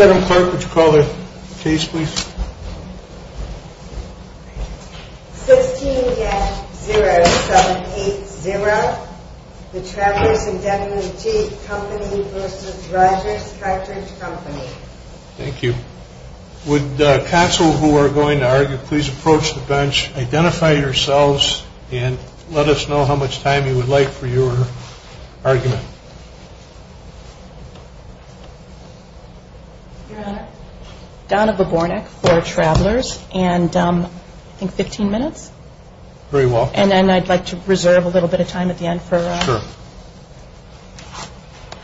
Adam Clark, would you call the case please? 16-0780, The Travelers Indemnity Company v. Rogers Cartage Company. Thank you. Would counsel who are going to argue please approach the bench, identify yourselves and let us know how much time you would like for your argument. Your Honor. Donna Babornik for Travelers and I think 15 minutes. Very well. And then I'd like to reserve a little bit of time at the end for... Sure.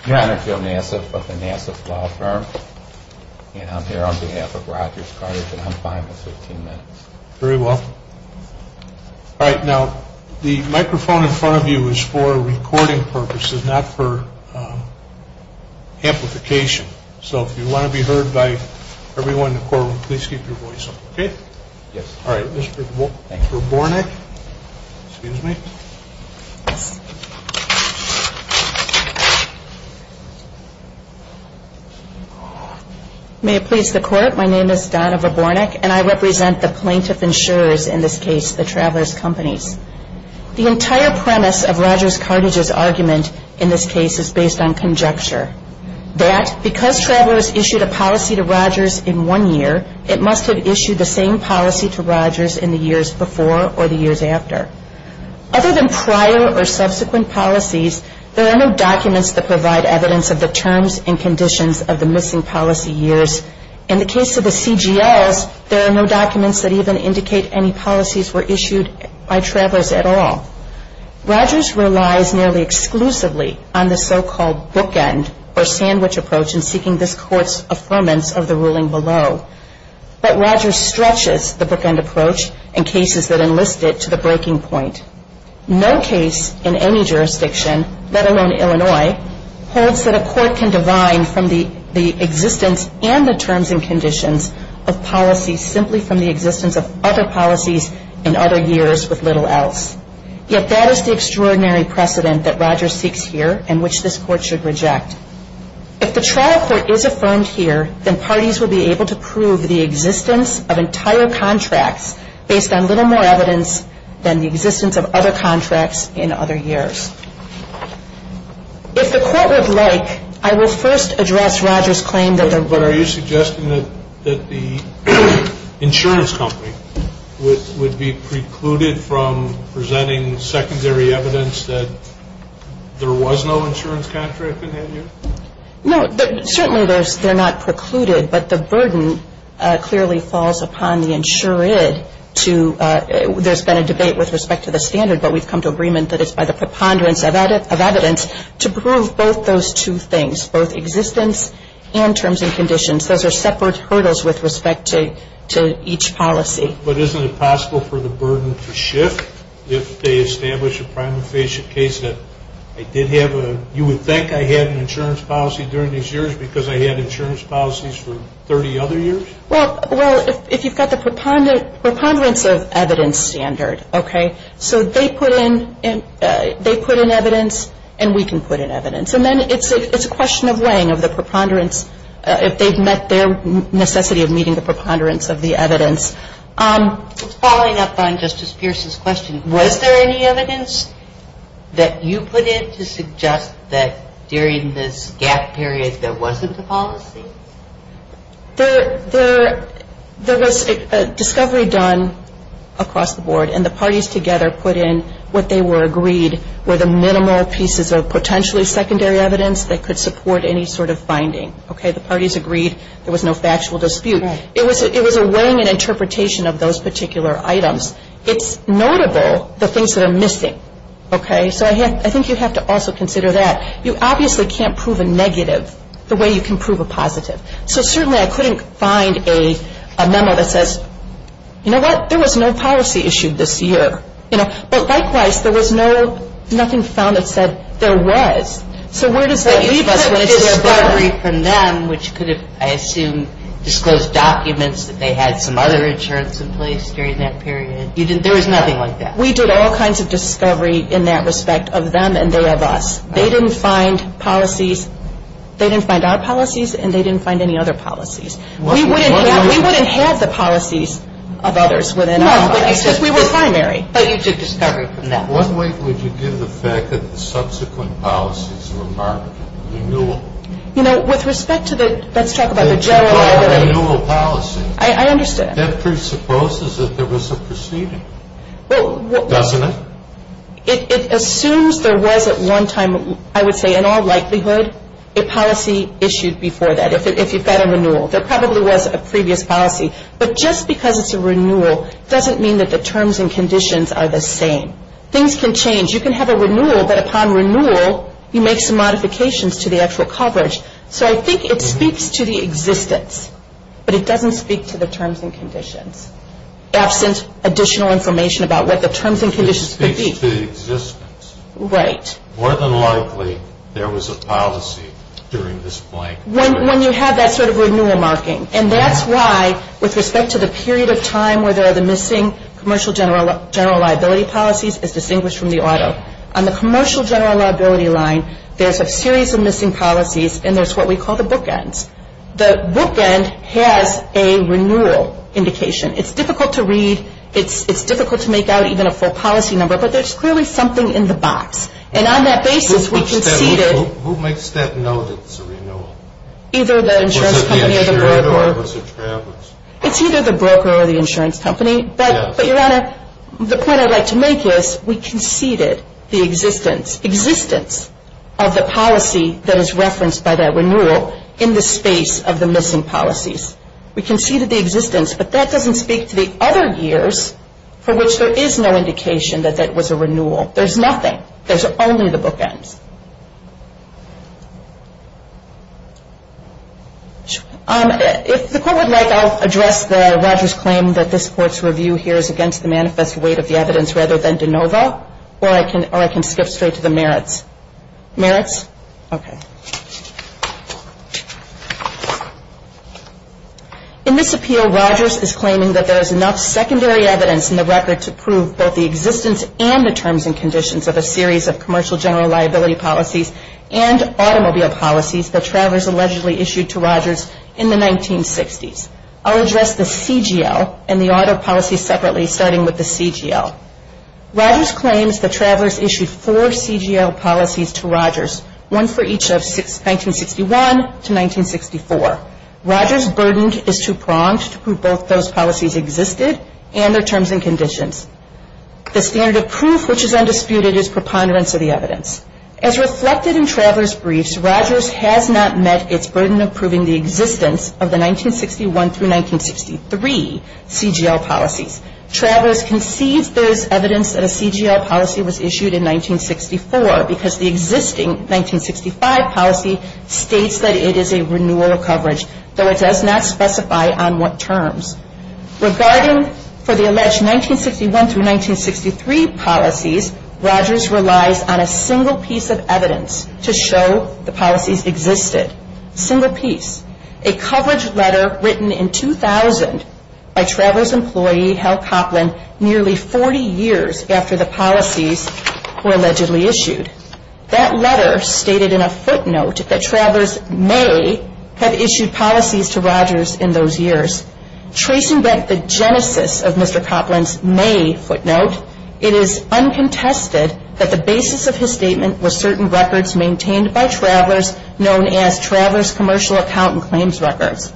Your Honor, Joe Nassif of the Nassif Law Firm and I'm here on behalf of Rogers Cartage and I'm fine with 15 minutes. Very well. All right, now the microphone in front of you is for recording purposes, not for amplification. So if you want to be heard by everyone in the courtroom, please keep your voice up. Okay? Yes. All right, this is for Babornik. Excuse me. May it please the Court, my name is Donna Babornik and I represent the plaintiff insurers in this case, The Travelers Companies. The entire premise of Rogers Cartage's argument in this case is based on conjecture. That because Travelers issued a policy to Rogers in one year, it must have issued the same policy to Rogers in the years before or the years after. Other than prior or subsequent policies, there are no documents that provide evidence of the terms and conditions of the missing policy years. In the case of the CGLs, there are no documents that even indicate any policies were issued by Travelers at all. Rogers relies nearly exclusively on the so-called bookend or sandwich approach in seeking this Court's affirmance of the ruling below. But Rogers stretches the bookend approach in cases that enlist it to the breaking point. No case in any jurisdiction, let alone Illinois, holds that a court can divine from the existence and the terms and conditions of policies simply from the existence of other policies in other years with little else. Yet that is the extraordinary precedent that Rogers seeks here and which this Court should reject. If the trial court is affirmed here, then parties will be able to prove the existence of entire contracts based on little more evidence than the existence of other contracts in other years. If the Court would like, I will first address Rogers' claim that there were... Are you presenting secondary evidence that there was no insurance contract in that year? No, certainly they're not precluded, but the burden clearly falls upon the insured to... There's been a debate with respect to the standard, but we've come to agreement that it's by the preponderance of evidence to prove both those two things, both existence and terms and conditions. Those are separate hurdles with respect to each policy. But isn't it possible for the burden to shift if they establish a prima facie case that I did have a... You would think I had an insurance policy during these years because I had insurance policies for 30 other years? Well, if you've got the preponderance of evidence standard, okay, so they put in evidence and we can put in evidence. And then it's a question of weighing of the preponderance, if they've met their necessity of meeting the preponderance of the evidence. Following up on Justice Pierce's question, was there any evidence that you put in to suggest that during this gap period there wasn't a policy? There was a discovery done across the board and the parties together put in what they were agreed were the minimal pieces of potentially secondary evidence that could support any sort of finding. The parties agreed there was no factual dispute. It was a weighing and interpretation of those particular items. It's notable the things that are missing, okay? So I think you have to also consider that. You obviously can't prove a negative the way you can prove a positive. So certainly I couldn't find a memo that says, you know what, there was no policy issued this year. But likewise, there was nothing found that said there was. So where does that leave us? You took discovery from them, which could have, I assume, disclosed documents that they had some other insurance in place during that period. There was nothing like that. We did all kinds of discovery in that respect of them and they of us. They didn't find policies. They didn't find our policies and they didn't find any other policies. We wouldn't have the policies of others within our bodies because we were primary. But you took discovery from them. What weight would you give the fact that the subsequent policies were marked renewal? You know, with respect to the, let's talk about the general. Renewal policy. I understand. That presupposes that there was a proceeding. Well. Doesn't it? It assumes there was at one time, I would say in all likelihood, a policy issued before that if you've got a renewal. There probably was a previous policy. But just because it's a renewal doesn't mean that the terms and conditions are the same. Things can change. You can have a renewal, but upon renewal you make some modifications to the actual coverage. So I think it speaks to the existence. But it doesn't speak to the terms and conditions. Absent additional information about what the terms and conditions could be. It speaks to the existence. Right. More than likely there was a policy during this blank period. When you have that sort of renewal marking. And that's why with respect to the period of time where there are the missing commercial general liability policies as distinguished from the auto. On the commercial general liability line, there's a series of missing policies. And there's what we call the bookends. The bookend has a renewal indication. It's difficult to read. It's difficult to make out even a full policy number. But there's clearly something in the box. And on that basis we conceded. Who makes that note that it's a renewal? Either the insurance company or the broker. Was it the insurer or was it Travis? It's either the broker or the insurance company. Yes. But Your Honor, the point I'd like to make is we conceded the existence. Existence of the policy that is referenced by that renewal. In the space of the missing policies. We conceded the existence. But that doesn't speak to the other years for which there is no indication that that was a renewal. There's nothing. There's only the bookends. If the court would like, I'll address the Rogers claim that this court's review here is against the manifest weight of the evidence rather than de novo. Or I can skip straight to the merits. Merits? Okay. In this appeal, Rogers is claiming that there is enough secondary evidence in the record to prove both the existence and the terms and conditions of a series of commercial general liability lines. And automobile policies that travelers allegedly issued to Rogers in the 1960s. I'll address the CGL and the auto policy separately starting with the CGL. Rogers claims that travelers issued four CGL policies to Rogers. One for each of 1961 to 1964. Rogers' burden is too pronged to prove both those policies existed and their terms and conditions. The standard of proof which is undisputed is preponderance of the evidence. As reflected in travelers' briefs, Rogers has not met its burden of proving the existence of the 1961 through 1963 CGL policies. Travelers concedes there is evidence that a CGL policy was issued in 1964 because the existing 1965 policy states that it is a renewal of coverage. Though it does not specify on what terms. Regarding for the alleged 1961 through 1963 policies, Rogers relies on a single piece of evidence to show the policies existed. Single piece. A coverage letter written in 2000 by travelers' employee, Hal Coplin, nearly 40 years after the policies were allegedly issued. That letter stated in a footnote that travelers may have issued policies to Rogers in those years. Tracing back the genesis of Mr. Coplin's May footnote, it is uncontested that the basis of his statement was certain records maintained by travelers known as Traveler's Commercial Account and Claims Records.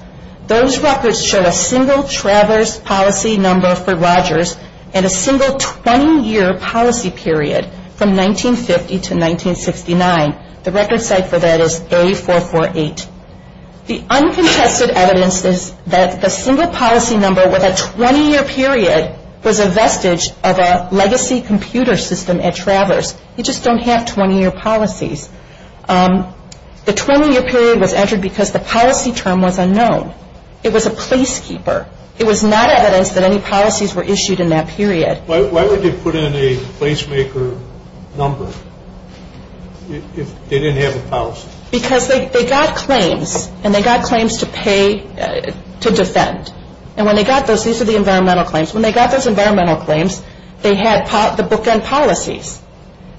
Those records show a single traveler's policy number for Rogers and a single 20-year policy period from 1950 to 1969. The record site for that is A448. The uncontested evidence is that the single policy number with a 20-year period was a vestige of a legacy computer system at Travelers. You just don't have 20-year policies. The 20-year period was entered because the policy term was unknown. It was a placekeeper. It was not evidence that any policies were issued in that period. Why would they put in a placemaker number if they didn't have a policy? Because they got claims and they got claims to pay to defend. These are the environmental claims. When they got those environmental claims, they had the bookend policies.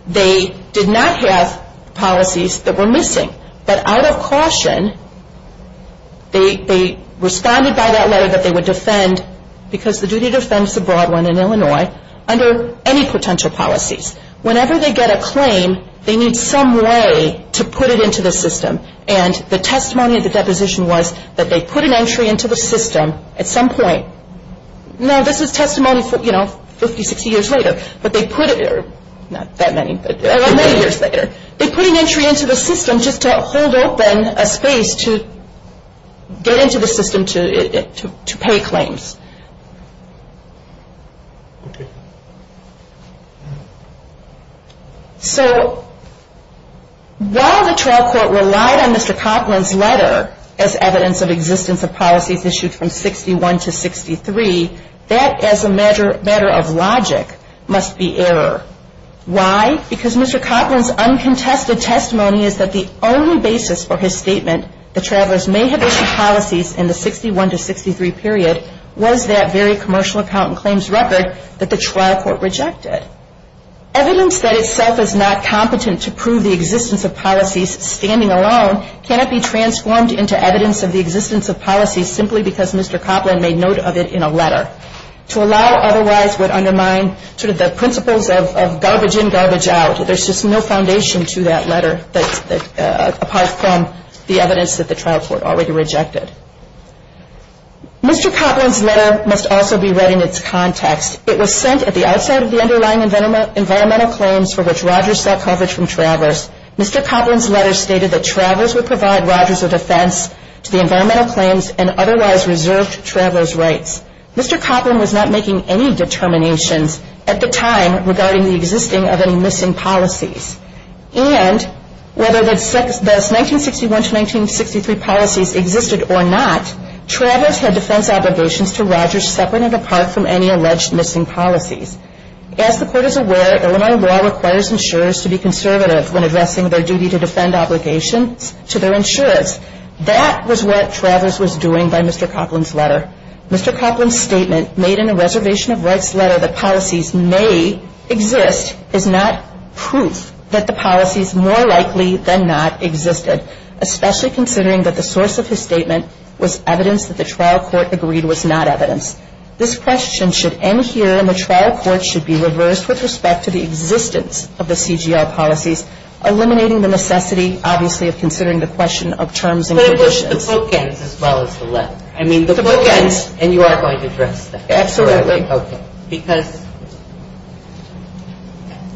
They did not have policies that were missing. But out of caution, they responded by that letter that they would defend because the duty to defend is a broad one in Illinois, under any potential policies. Whenever they get a claim, they need some way to put it into the system. And the testimony of the deposition was that they put an entry into the system at some point. Now, this is testimony for, you know, 50, 60 years later. But they put it, not that many, but many years later. They put an entry into the system just to hold open a space to get into the system to pay claims. So, while the trial court relied on Mr. Copland's letter as evidence of existence of policies issued from 61 to 63, that as a matter of logic must be error. Why? Because Mr. Copland's uncontested testimony is that the only basis for his statement that travelers may have issued policies in the 61 to 63 period was that very commercial accountant claims record that the trial court rejected. Evidence that itself is not competent to prove the existence of policies standing alone cannot be transformed into evidence of the existence of policies simply because Mr. Copland made note of it in a letter. To allow otherwise would undermine sort of the principles of garbage in, garbage out. There's just no foundation to that letter apart from the evidence that the trial court already rejected. Mr. Copland's letter must also be read in its context. It was sent at the outside of the underlying environmental claims for which Rogers sought coverage from travelers. Mr. Copland's letter stated that travelers would provide Rogers a defense to the environmental claims and otherwise reserved travelers' rights. Mr. Copland was not making any determinations at the time regarding the existing of any missing policies. And, whether those 1961 to 1963 policies existed or not, travelers had defense obligations to Rogers separate and apart from any alleged missing policies. As the court is aware, Illinois law requires insurers to be conservative when addressing their duty to defend obligations to their insurers. That was what travelers was doing by Mr. Copland's letter. Mr. Copland's statement made in a reservation of rights letter that policies may exist is not proof that the policies more likely than not existed. Especially considering that the source of his statement was evidence that the trial court agreed was not evidence. This question should end here and the trial court should be reversed with respect to the existence of the CGR policies. Eliminating the necessity, obviously, of considering the question of terms and conditions. But it was the bookends as well as the letter. I mean, the bookends and you are going to address that. Absolutely. Because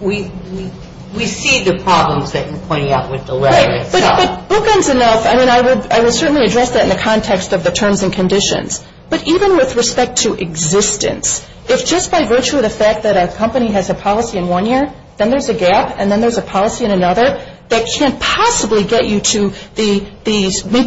we see the problems that you're pointing out with the letter itself. But bookends enough. I mean, I would certainly address that in the context of the terms and conditions. But even with respect to existence, if just by virtue of the fact that a company has a policy in one year, then there's a gap and then there's a policy in another that can't possibly get you to meet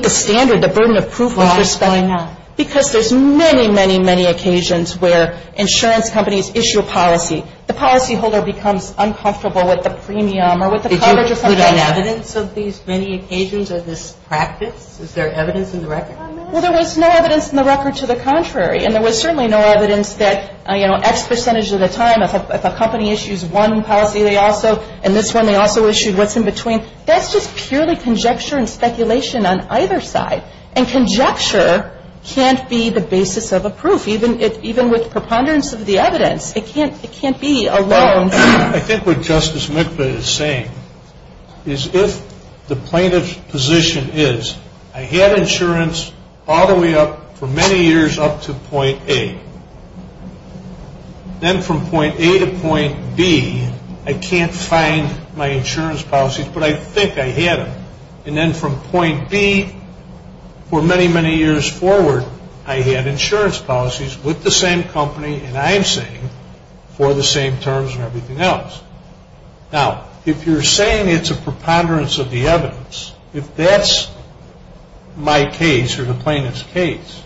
the standard, the burden of proof. Why is that not? Because there's many, many, many occasions where insurance companies issue a policy. The policy holder becomes uncomfortable with the premium or with the coverage or something like that. Is there evidence of these many occasions or this practice? Is there evidence in the record? Well, there was no evidence in the record to the contrary. And there was certainly no evidence that, you know, X percentage of the time, if a company issues one policy, they also, in this one, they also issued what's in between. That's just purely conjecture and speculation on either side. And conjecture can't be the basis of a proof, even with preponderance of the evidence. It can't be alone. I think what Justice Mikva is saying is if the plaintiff's position is, I had insurance all the way up for many years up to point A. Then from point A to point B, I can't find my insurance policies, but I think I had them. And then from point B, for many, many years forward, I had insurance policies with the same company and I'm saying for the same terms and everything else. Now, if you're saying it's a preponderance of the evidence, if that's my case or the plaintiff's case,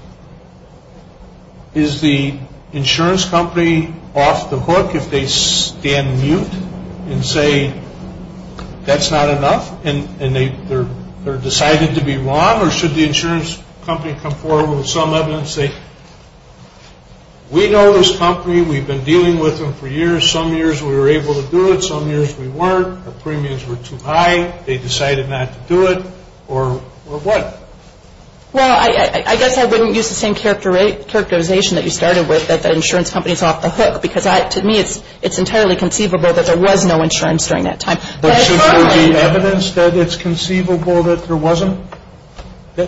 is the insurance company off the hook if they stand mute and say that's not enough and they're decided to be wrong? Or should the insurance company come forward with some evidence and say we know this company, we've been dealing with them for years, some years we were able to do it, some years we weren't, the premiums were too high, they decided not to do it, or what? Well, I guess I wouldn't use the same characterization that you started with, that the insurance company is off the hook. Because to me, it's entirely conceivable that there was no insurance during that time. But should there be evidence that it's conceivable that there wasn't? You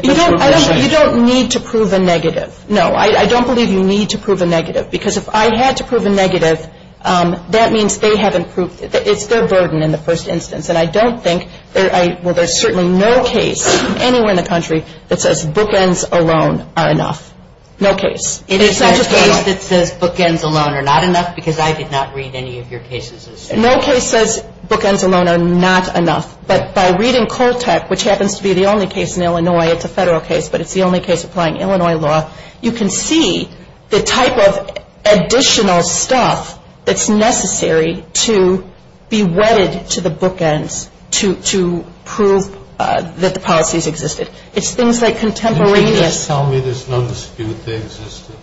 don't need to prove a negative. No, I don't believe you need to prove a negative. Because if I had to prove a negative, that means they haven't proved it. It's their burden in the first instance. And I don't think, well, there's certainly no case anywhere in the country that says bookends alone are enough. No case. Is there a case that says bookends alone are not enough? Because I did not read any of your cases. No case says bookends alone are not enough. But by reading Coltec, which happens to be the only case in Illinois, it's a federal case, but it's the only case applying Illinois law, you can see the type of additional stuff that's necessary to be wedded to the bookends to prove that the policies existed. It's things like contemporaneous... Can you just tell me there's no dispute they existed?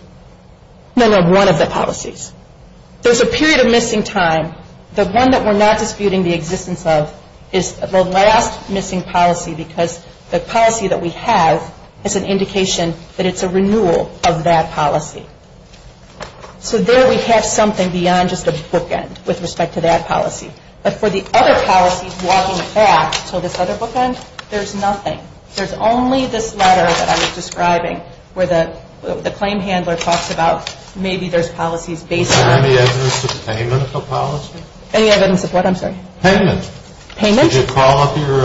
No, no, one of the policies. There's a period of missing time. The one that we're not disputing the existence of is the last missing policy because the policy that we have is an indication that it's a renewal of that policy. So there we have something beyond just a bookend with respect to that policy. But for the other policies walking back to this other bookend, there's nothing. There's only this letter that I was describing where the claim handler talks about maybe there's policies based on... Any evidence of what? I'm sorry. Payment. Payment? Did you call up your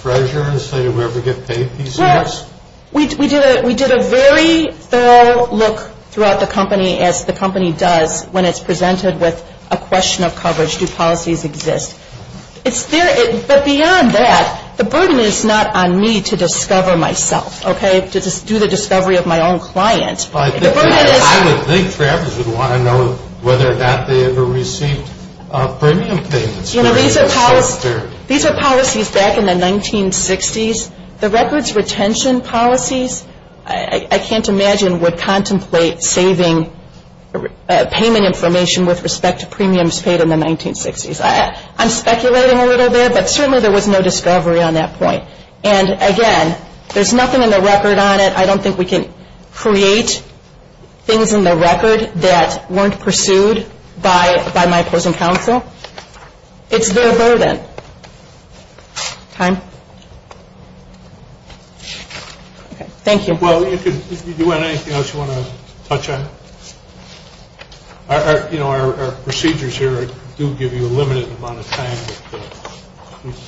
treasurer and say, did we ever get paid PCS? We did a very thorough look throughout the company as the company does when it's presented with a question of coverage. Do policies exist? But beyond that, the burden is not on me to discover myself, okay? To do the discovery of my own client. I would think Travers would want to know whether or not they ever received premium payments. These are policies back in the 1960s. The records retention policies, I can't imagine, would contemplate saving payment information with respect to premiums paid in the 1960s. I'm speculating a little bit, but certainly there was no discovery on that point. And again, there's nothing in the record on it. I don't think we can create things in the record that weren't pursued by my opposing counsel. It's their burden. Time? Okay, thank you. Well, if you want anything else you want to touch on? You know, our procedures here do give you a limited amount of time.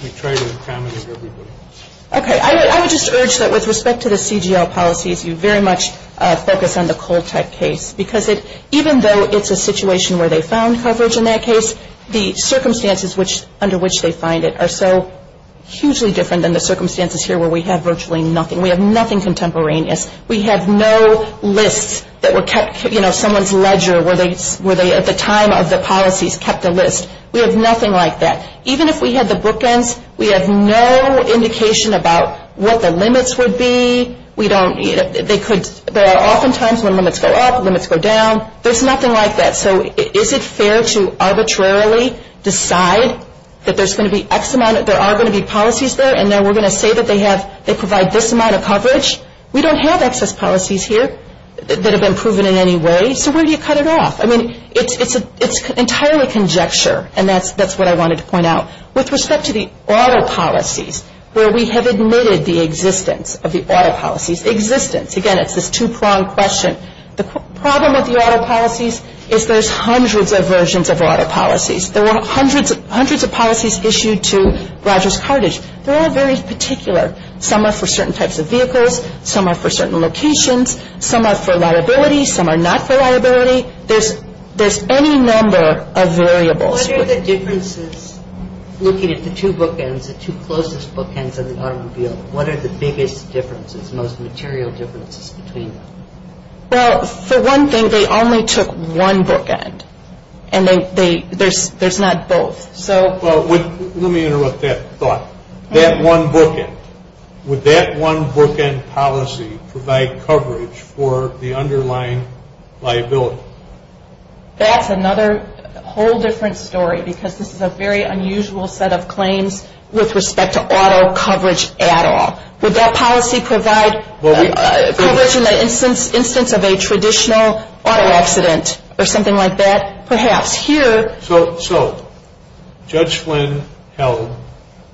We try to accommodate everybody. Okay, I would just urge that with respect to the CGL policies, you very much focus on the Coltec case. Because even though it's a situation where they found coverage in that case, the circumstances under which they find it are so hugely different than the circumstances here where we have virtually nothing. We have nothing contemporaneous. We have no lists that were kept, you know, someone's ledger where they, at the time of the policies, kept a list. We have nothing like that. Even if we had the bookends, we have no indication about what the limits would be. We don't, you know, they could, there are often times when limits go up, limits go down. There's nothing like that. So is it fair to arbitrarily decide that there's going to be X amount, there are going to be policies there, and then we're going to say that they have, they provide this amount of coverage? We don't have excess policies here that have been proven in any way. So where do you cut it off? I mean, it's entirely conjecture. And that's what I wanted to point out. With respect to the auto policies, where we have admitted the existence of the auto policies, existence, again, it's this two-pronged question. The problem with the auto policies is there's hundreds of versions of auto policies. There were hundreds of policies issued to Rogers Carthage. They're all very particular. Some are for certain types of vehicles. Some are for certain locations. Some are for liability. Some are not for liability. There's any number of variables. What are the differences looking at the two bookends, the two closest bookends of the automobile? What are the biggest differences, most material differences between them? Well, for one thing, they only took one bookend. And there's not both. Well, let me interrupt that thought. That one bookend, would that one bookend policy provide coverage for the underlying liability? That's another whole different story because this is a very unusual set of claims with respect to auto coverage at all. Would that policy provide coverage in the instance of a traditional auto accident or something like that? Perhaps. Here... So, Judge Flynn held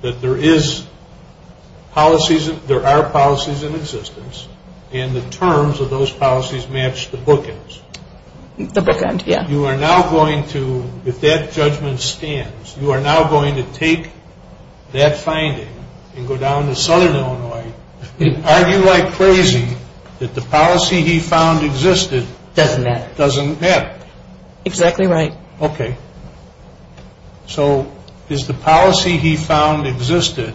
that there are policies in existence and the terms of those policies match the bookends. The bookend, yeah. You are now going to, if that judgment stands, you are now going to take that finding and go down to southern Illinois and argue like crazy that the policy he found existed... Doesn't matter. Doesn't matter. Exactly right. Okay. So, is the policy he found existed,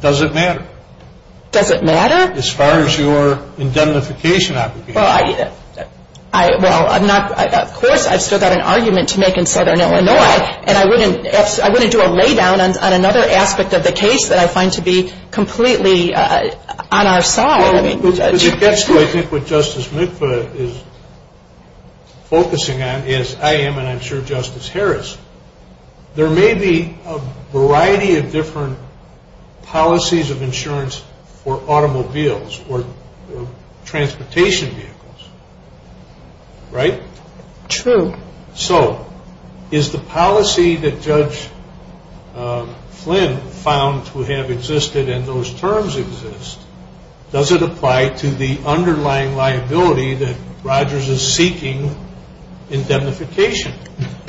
does it matter? Does it matter? As far as your indemnification application. Well, of course, I've still got an argument to make in southern Illinois and I wouldn't do a lay down on another aspect of the case that I find to be completely on our side. Because it gets to, I think, what Justice Mikva is focusing on, as I am and I'm sure Justice Harris. There may be a variety of different policies of insurance for automobiles or transportation vehicles. Right? True. So, is the policy that Judge Flynn found to have existed and those terms exist, does it apply to the underlying liability that Rogers is seeking indemnification?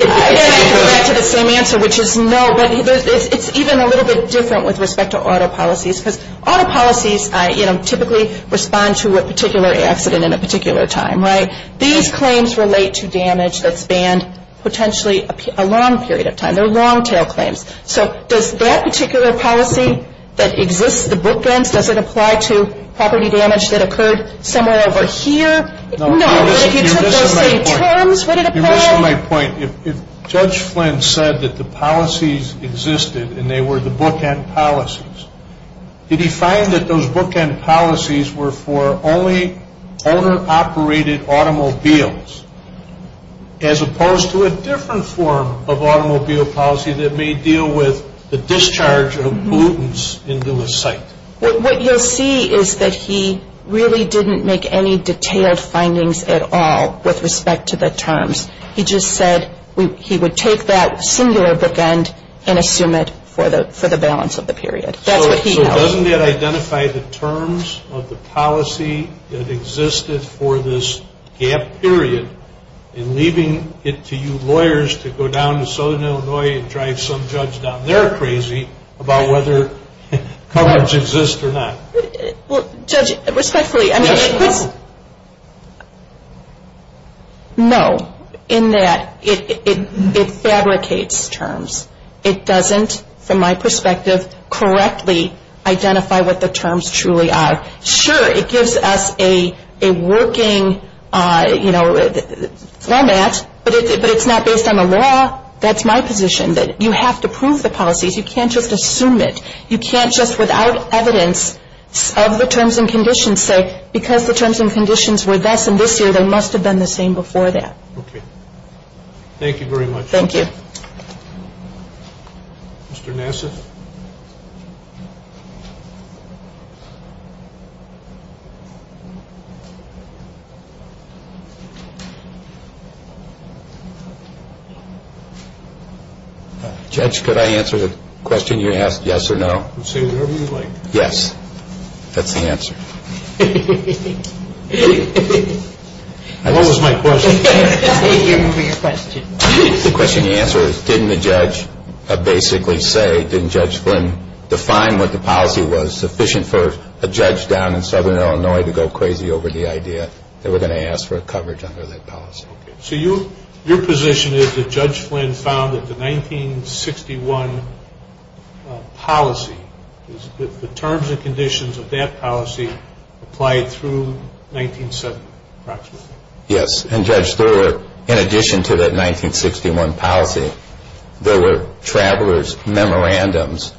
I can go back to the same answer, which is no, but it's even a little bit different with respect to auto policies. Because auto policies, you know, typically respond to a particular accident in a particular time, right? These claims relate to damage that spanned potentially a long period of time. They're long tail claims. So, does that particular policy that exists, the bookends, does it apply to property damage that occurred somewhere over here? No. But if you took those same terms, would it apply? You're missing my point. If Judge Flynn said that the policies existed and they were the bookend policies, did he find that those bookend policies were for only owner-operated automobiles as opposed to a different form of automobile policy that may deal with the discharge of pollutants into a site? What you'll see is that he really didn't make any detailed findings at all with respect to the terms. He just said he would take that singular bookend and assume it for the balance of the period. So, doesn't that identify the terms of the policy that existed for this gap period in leaving it to you lawyers to go down to southern Illinois and drive some judge down there crazy about whether coverage exists or not? Well, Judge, respectfully, I mean... No. No. In that, it fabricates terms. It doesn't, from my perspective, correctly identify what the terms truly are. Sure, it gives us a working format, but it's not based on the law. That's my position, that you have to prove the policies. You can't just assume it. You can't just, without evidence of the terms and conditions, say, because the terms and conditions were this and this year, they must have been the same before that. Okay. Thank you very much. Thank you. Mr. Nassif? Thank you. Judge, could I answer the question you asked, yes or no? Say whatever you like. Yes. That's the answer. What was my question? I can't remember your question. The question you answered is, didn't the judge basically say, define what the policy was, sufficient for a judge down in southern Illinois to go crazy over the idea that we're going to ask for coverage under that policy. So your position is that Judge Flynn found that the 1961 policy, the terms and conditions of that policy, applied through 1970, approximately. Yes, and Judge, in addition to that 1961 policy, there were traveler's memorandums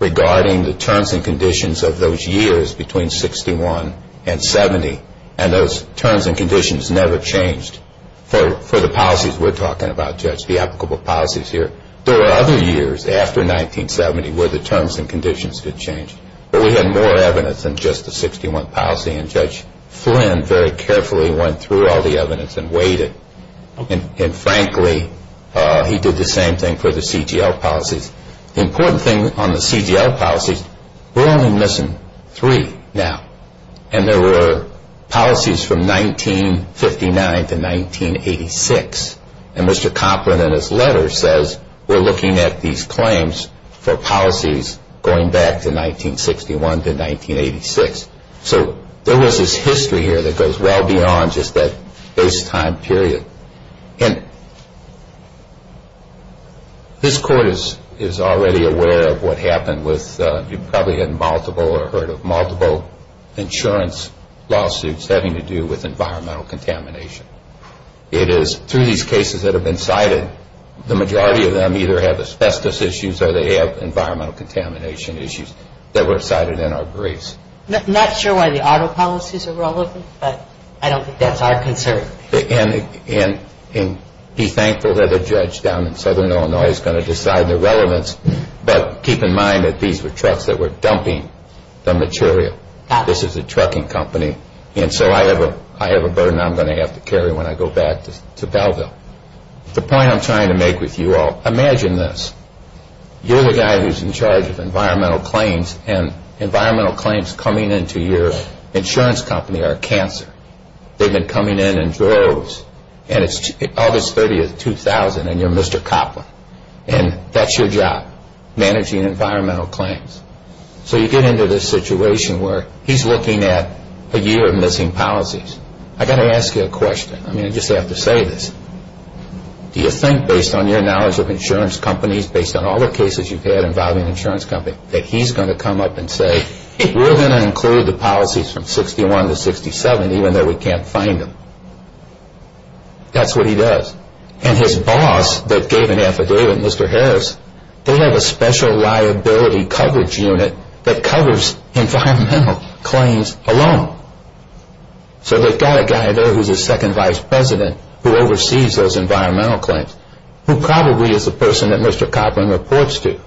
regarding the terms and conditions of those years between 61 and 70. And those terms and conditions never changed for the policies we're talking about, Judge, the applicable policies here. There were other years after 1970 where the terms and conditions could change. But we had more evidence than just the 61 policy. And Judge Flynn very carefully went through all the evidence and weighed it. And frankly, he did the same thing for the CTL policies. The important thing on the CTL policies, we're only missing three now. And there were policies from 1959 to 1986. And Mr. Copland in his letter says we're looking at these claims for policies going back to 1961 to 1986. So there was this history here that goes well beyond just that base time period. And this Court is already aware of what happened with, you've probably had multiple or heard of multiple insurance lawsuits having to do with environmental contamination. It is through these cases that have been cited, the majority of them either have asbestos issues or they have environmental contamination issues that were cited in our briefs. Not sure why the auto policies are relevant, but I don't think that's our concern. And be thankful that a judge down in southern Illinois is going to decide the relevance. But keep in mind that these were trucks that were dumping the material. This is a trucking company. And so I have a burden I'm going to have to carry when I go back to Belleville. The point I'm trying to make with you all, imagine this. You're the guy who's in charge of environmental claims. And environmental claims coming into your insurance company are cancer. They've been coming in in droves. And it's August 30, 2000 and you're Mr. Copland. And that's your job, managing environmental claims. So you get into this situation where he's looking at a year of missing policies. I've got to ask you a question. I mean, I just have to say this. Do you think based on your knowledge of insurance companies, based on all the cases you've had involving insurance companies, that he's going to come up and say we're going to include the policies from 61 to 67 even though we can't find them? That's what he does. And his boss, that gave an affidavit, Mr. Harris, they have a special liability coverage unit that covers environmental claims alone. So they've got a guy there who's a second vice president who oversees those environmental claims who probably is the person that Mr. Copland reports to.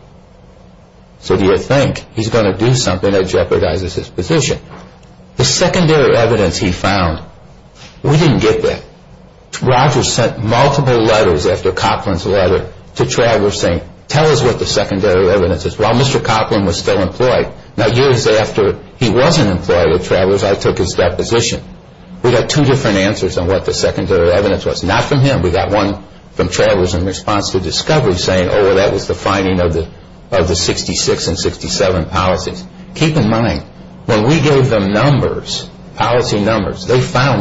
So do you think he's going to do something that jeopardizes his position? The secondary evidence he found we didn't get that. Rogers sent multiple letters after Copland's letter to Travers saying tell us what the secondary evidence is. While Mr. Copland was still employed, now years after he wasn't employed with Travers, I took his deposition. We got two different answers on what the secondary evidence was. Not from him. We got one from Travers in response to Discovery saying, oh, well, that was the finding of the 66 and 67 policies. We found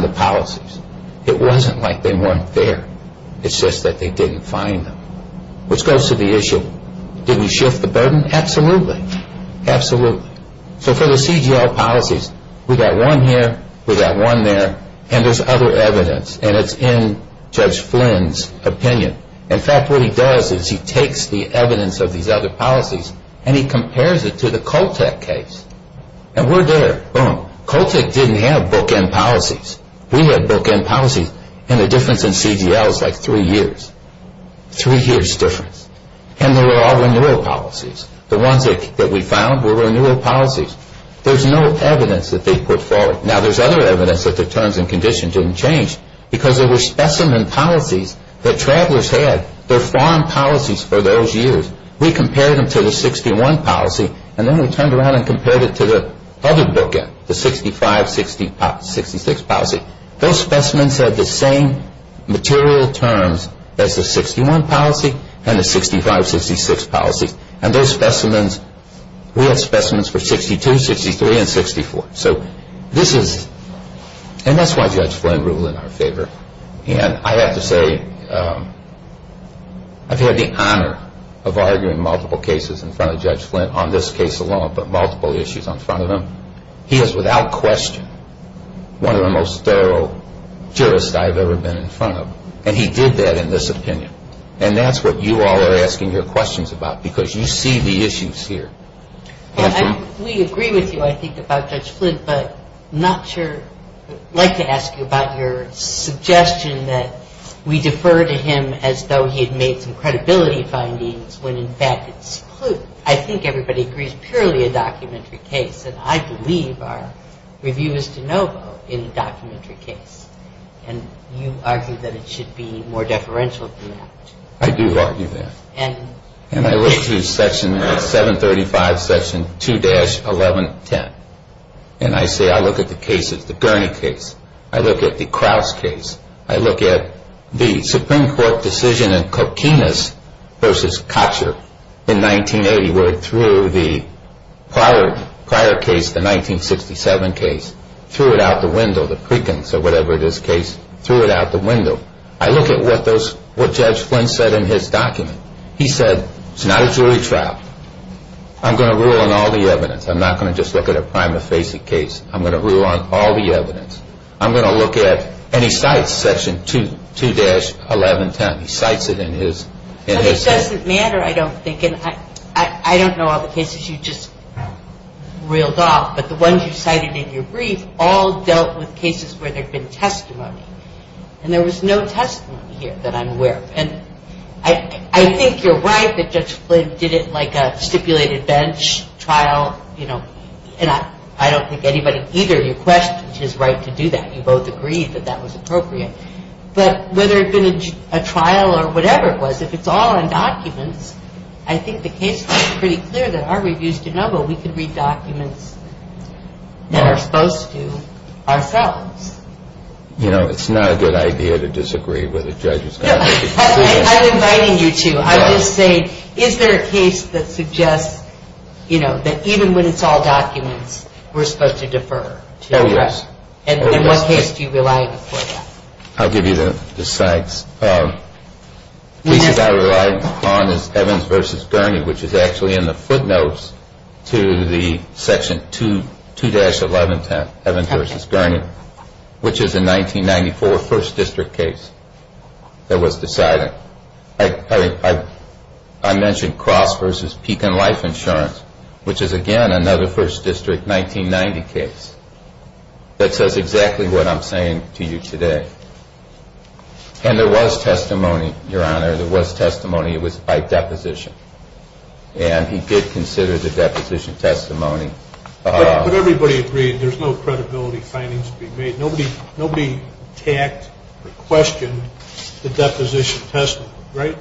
the policies. It wasn't like they weren't there. It's just that they didn't find them. Which goes to the issue of did we shift the burden? Absolutely. Absolutely. So for the CGL policies, we got one here, we got one there, and there's other evidence. And it's in Judge Flynn's opinion. In fact, what he does is he takes the evidence of these other policies and he compares it to the Coltec case. We had bookend policies and the difference in CGL is like three years. Three years difference. And they were all renewal policies. The ones that we found were renewal policies. There's no evidence that they put forward. Now there's other evidence that the terms and conditions didn't change because there were specimen policies that Travelers had. They're foreign policies for those years. We compared them to the 61 policy and then we turned around and compared it to the other 61 policy. Those specimens had the same material terms as the 61 policy and the 65-66 policy. And those specimens, we had specimens for 62, 63, and 64. So this is, and that's why Judge Flynn ruled in our favor. And I have to say, I've had the honor of arguing multiple cases in front of Judge Flynn on this case alone, but multiple issues in front of him. He is without question one of the most thorough jurists I've ever been in front of. And he did that in this opinion. And that's what you all are asking your questions about because you see the issues here. We agree with you, I think, about Judge Flynn, but not sure, I'd like to ask you about your suggestion that we defer to him as though he had made some credibility findings when, in fact, I think everybody agrees purely a documentary case. And I believe our review is de novo a documentary case. And you argue that it should be more deferential than that. I do argue that. And I look through Section 735, Section 2-1110, and I say, I look at the cases, the Gurney case, I look at the Kraus case, I look at the Supreme Court decision in Coquinas versus Katcher in 1980 where it threw the prior case, the 1967 case, threw it out the window, I look at what Judge Flynn said in his document. He said, it's not a jury trial. I'm going to rule on all the evidence. I'm not going to just look at a prima facie case. I'm going to rule on all the evidence. I'm going to look at and he cites Section 2-1110. He cites it in his. It doesn't matter, I don't think. I don't know all the cases you just reeled off, but the ones you cited in your brief all dealt with cases where there had been testimony. And there was no testimony here that I'm aware of. I think you're right that Judge Flynn did it like a stipulated bench trial. I don't think either of your questions is right to do that. You both agreed that that was appropriate. But whether it had been a trial or whatever it was, it's not a good idea to disagree with a judge. I'm inviting you to. I'm just saying is there a case that suggests that even when it's all documents we're supposed to defer? Oh yes. And in what case do you rely on it? I'll give you the cites. The case I relied on is Evans v. Gurney, which is actually in the 1994 First District case that was decided. I mentioned Cross v. Pekin Life Insurance, which is again another First District 1990 case. That says exactly what I'm saying to you today. And there was testimony, Your Honor. There was testimony. It was by deposition. And he did consider the deposition testimony. But everybody agreed that it would not be tacked or questioned the deposition testimony, right?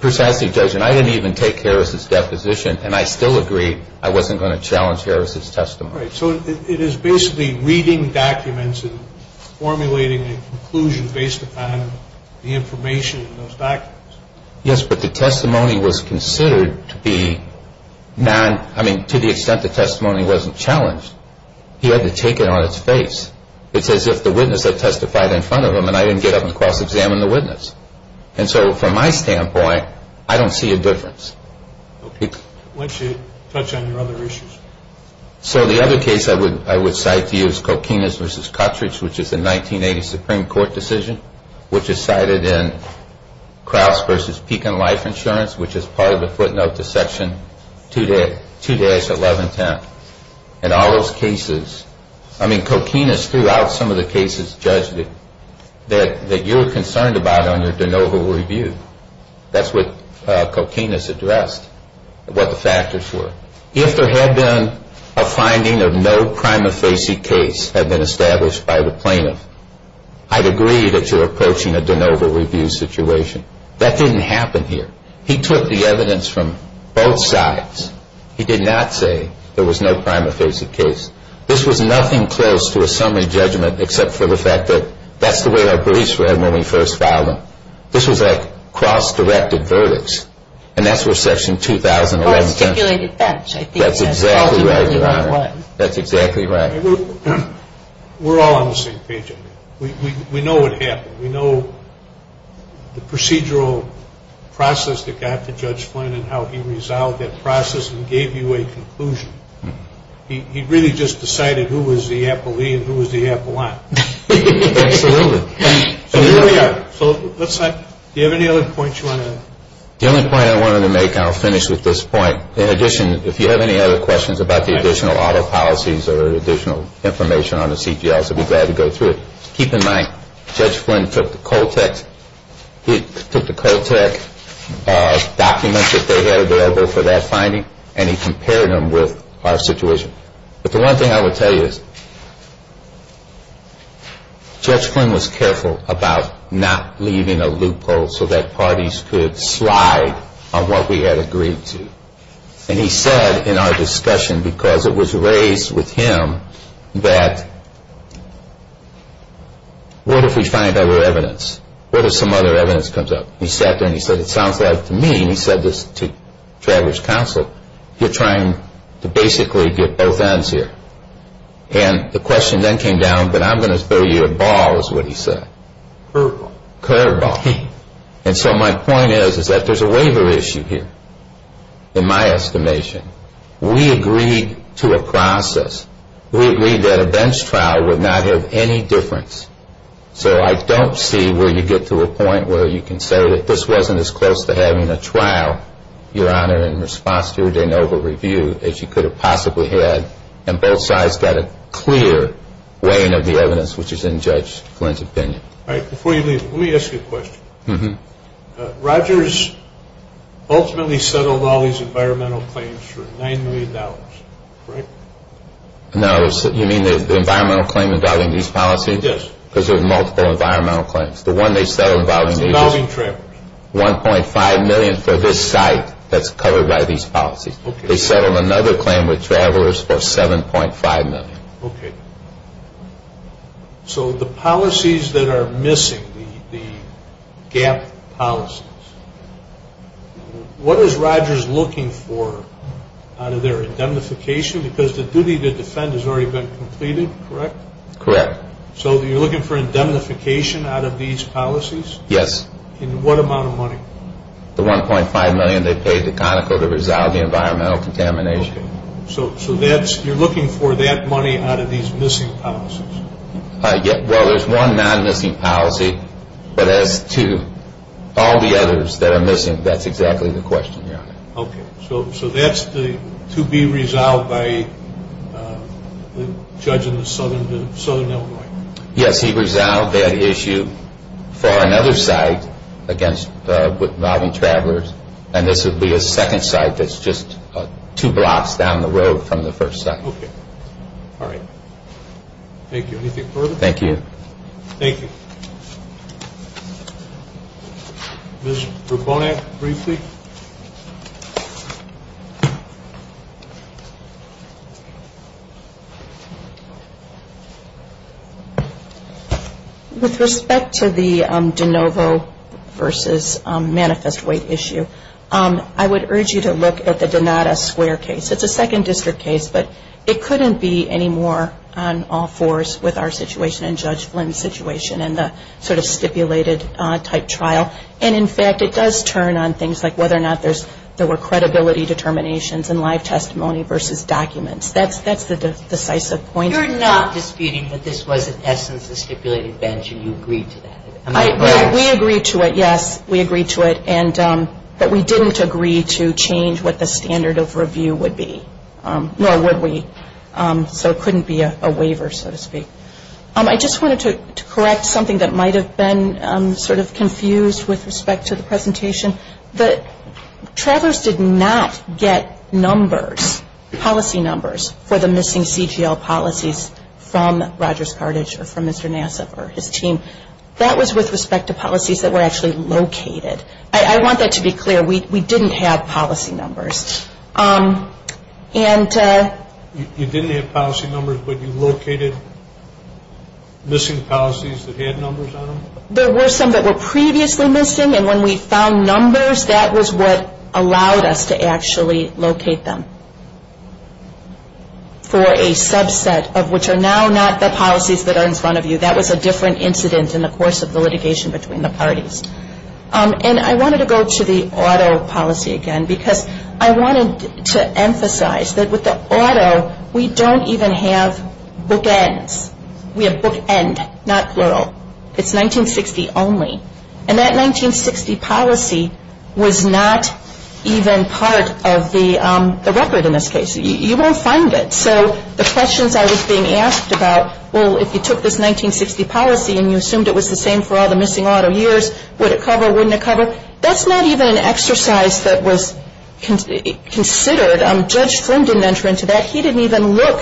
Precisely, Judge. And I didn't even take Harris's deposition and I still agree I wasn't going to challenge Harris's testimony. Right. So it is basically reading documents and formulating a conclusion based on the evidence that testified in front of him. And I didn't get up and cross examine the witness. And so from my standpoint, I don't see a difference. Okay. Why don't you touch on your other issues? So the other case I would cite to you is Coquinas v. Coquinas, the case that was judged that you were concerned about on your de novo review. That's what Coquinas addressed, what the factors were. If there had been a finding of no prima facie case had been established by the plaintiff, I'd agree that you're concerned about the fact that that's the way our police read when we first filed them. This was a cross-directed verdict. And that's what Section 2011 says. That's exactly right. That's exactly right. We're all on the same page. We know what happened. We know what page. We're all on the same page. In addition, if you have any other questions about the additional auto policies or additional information on the CTLs, I'd be glad to go through it. Keep in mind, Judge Flynn took the COLTECH documents that they had available for that finding and he compared them with our situation. But the one thing I would tell you is Judge Flynn was careful about not leaving a loophole so that parties could slide on what we had agreed to. And he said in our discussion, because it was raised with him, that what if we find other evidence? What if some other evidence comes up? He sat there and he said to Travers Counsel, you're trying to basically get both ends here. And the question then came down, but I'm going to throw you a ball, is what he said. Curveball. And so my point is that there's a waiver issue here, in my estimation. We agreed to a process. We agreed that a bench trial would not have any difference. So I don't see where you get to a point where you can say that this wasn't as close to having a trial, your Honor, in response to your de novo review as you could have possibly had and both sides got a clear weighing of the evidence which is in Judge Flynn's opinion. Q. Before you leave, let me ask you a question. Rogers ultimately settled all these environmental claims for $9 million, correct? A. No, you mean the environmental claim involving these policies? Q. Yes. A. Because there were multiple environmental claims. The one they settled involving these was $1.5 million for this site that's covered by these policies. They settled another claim with travelers for $7.5 million. Q. Okay. So the policies that are missing, the GAP policies, what is Rogers looking for? A. The $1.5 million they paid to Conoco to resolve the environmental contamination. Q. So you're looking for that money out of these missing policies? A. Well, there's one non-missing policy, but that's that's the $1.5 million. A. Yes. Q. So you're looking for indemnification out of these policies? A. Yes. Q. And that's to be resolved by the judge in the southern Illinois? A. Yes. He resolved that issue for another site against involving travelers, and this would be a second site that's just two blocks down the road from the first site. Q. Okay. All right. Thank you. Anything further? A. Thank you. Q. Thank you. Ms. Verbonak, briefly. Q. With respect to the de novo versus manifest weight issue, I would urge you to look at the Donata Square case. It's a second district case, but it couldn't be any more on all fours with our situation type trial. And, in fact, it does turn on things like the non-missing policy. A. Yes. Q. And that's the point. A. You're not disputing that this was, in essence, a stipulated bench and you agreed to that. Q. We agreed to it, yes. We agreed to it, but we didn't agree to change what the standard of review would be, nor would we. So it couldn't be a waiver, so to speak. A. I just wanted to correct something that might have been sort of confused with respect to the presentation. Travelers did not get numbers, policy numbers, for the missing CGL policies from Rogers Carthage or from Mr. Nassif or his team. That was with respect to policies that were actually located. I want that to be clear. We didn't have policy numbers. Q. You didn't have policy numbers, but you located missing policies that had numbers on them? A. There were some that were previously missing, and when we found numbers, that was what allowed us to actually locate them. For a subset of which are now not the policies that are in front of you, that was a different incident in the course of the litigation between the parties. And I wanted to go to the auto policy again because I wanted to emphasize that with the auto, we don't even have bookends. We have bookend, not plural. It's 1960 only. And that 1960 policy was not even part of the record in this case. You won't find it. So the questions I was being asked about, well, if you and you assumed it was the same for all the missing auto years, would it cover, wouldn't it cover? That's not even an exercise in the record. That's not an exercise that was considered. Judge Flynn didn't enter into that. He didn't even look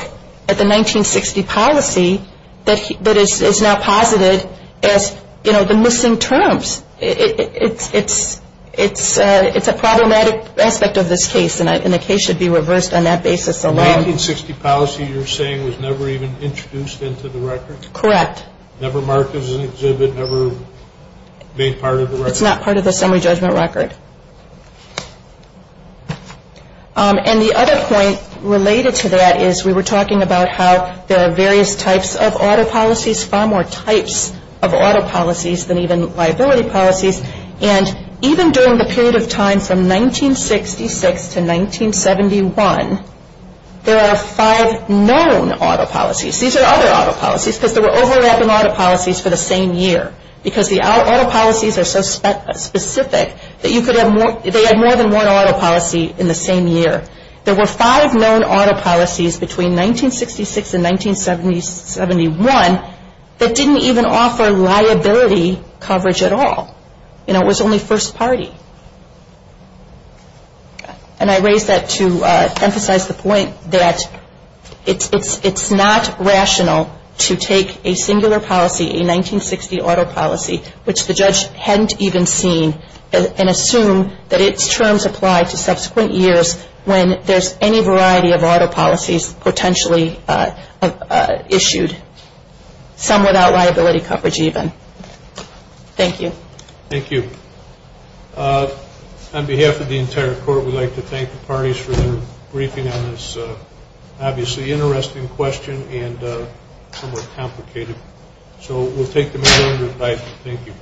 at the 1960 policy that is now posited as, you know, the missing terms. It's a problematic aspect of this case, and the case should be reversed on that basis alone. The 1960 policy you're saying was never even record? Correct. Never marked as an exhibit? Never made part of the record? It's not part of the summary judgment record. Okay. Well, the summary judgment was never recorded. And the other point related to that is we were talking about how there are various types of auto policies, far more types of auto policies than even liability policies, and even during the period of time from 1966 to 1971, there are five known auto policies. there were overlapping auto policies for the same year because the auto policies are so specific that you could have more, they had more than one auto policy. And the other point related to that is there were more than one auto policy in the same year. There were five known auto policies between 1966 and 1971 that didn't even offer liability coverage at all. You know, it was only first party. And I raise that to emphasize the point and assume that it's true. It's not rational to take a singular policy, a 1960 auto policy, which the judge hadn't even seen, and assume that it's true. And I think that those terms apply to subsequent years when there's any variety of auto policies potentially issued, some without liability coverage even. Thank you. Thank you. On behalf of the entire court, we'd like to thank the parties for their briefing on this obviously interesting question and somewhat complicated. So we'll take the majority of the time. Thank you.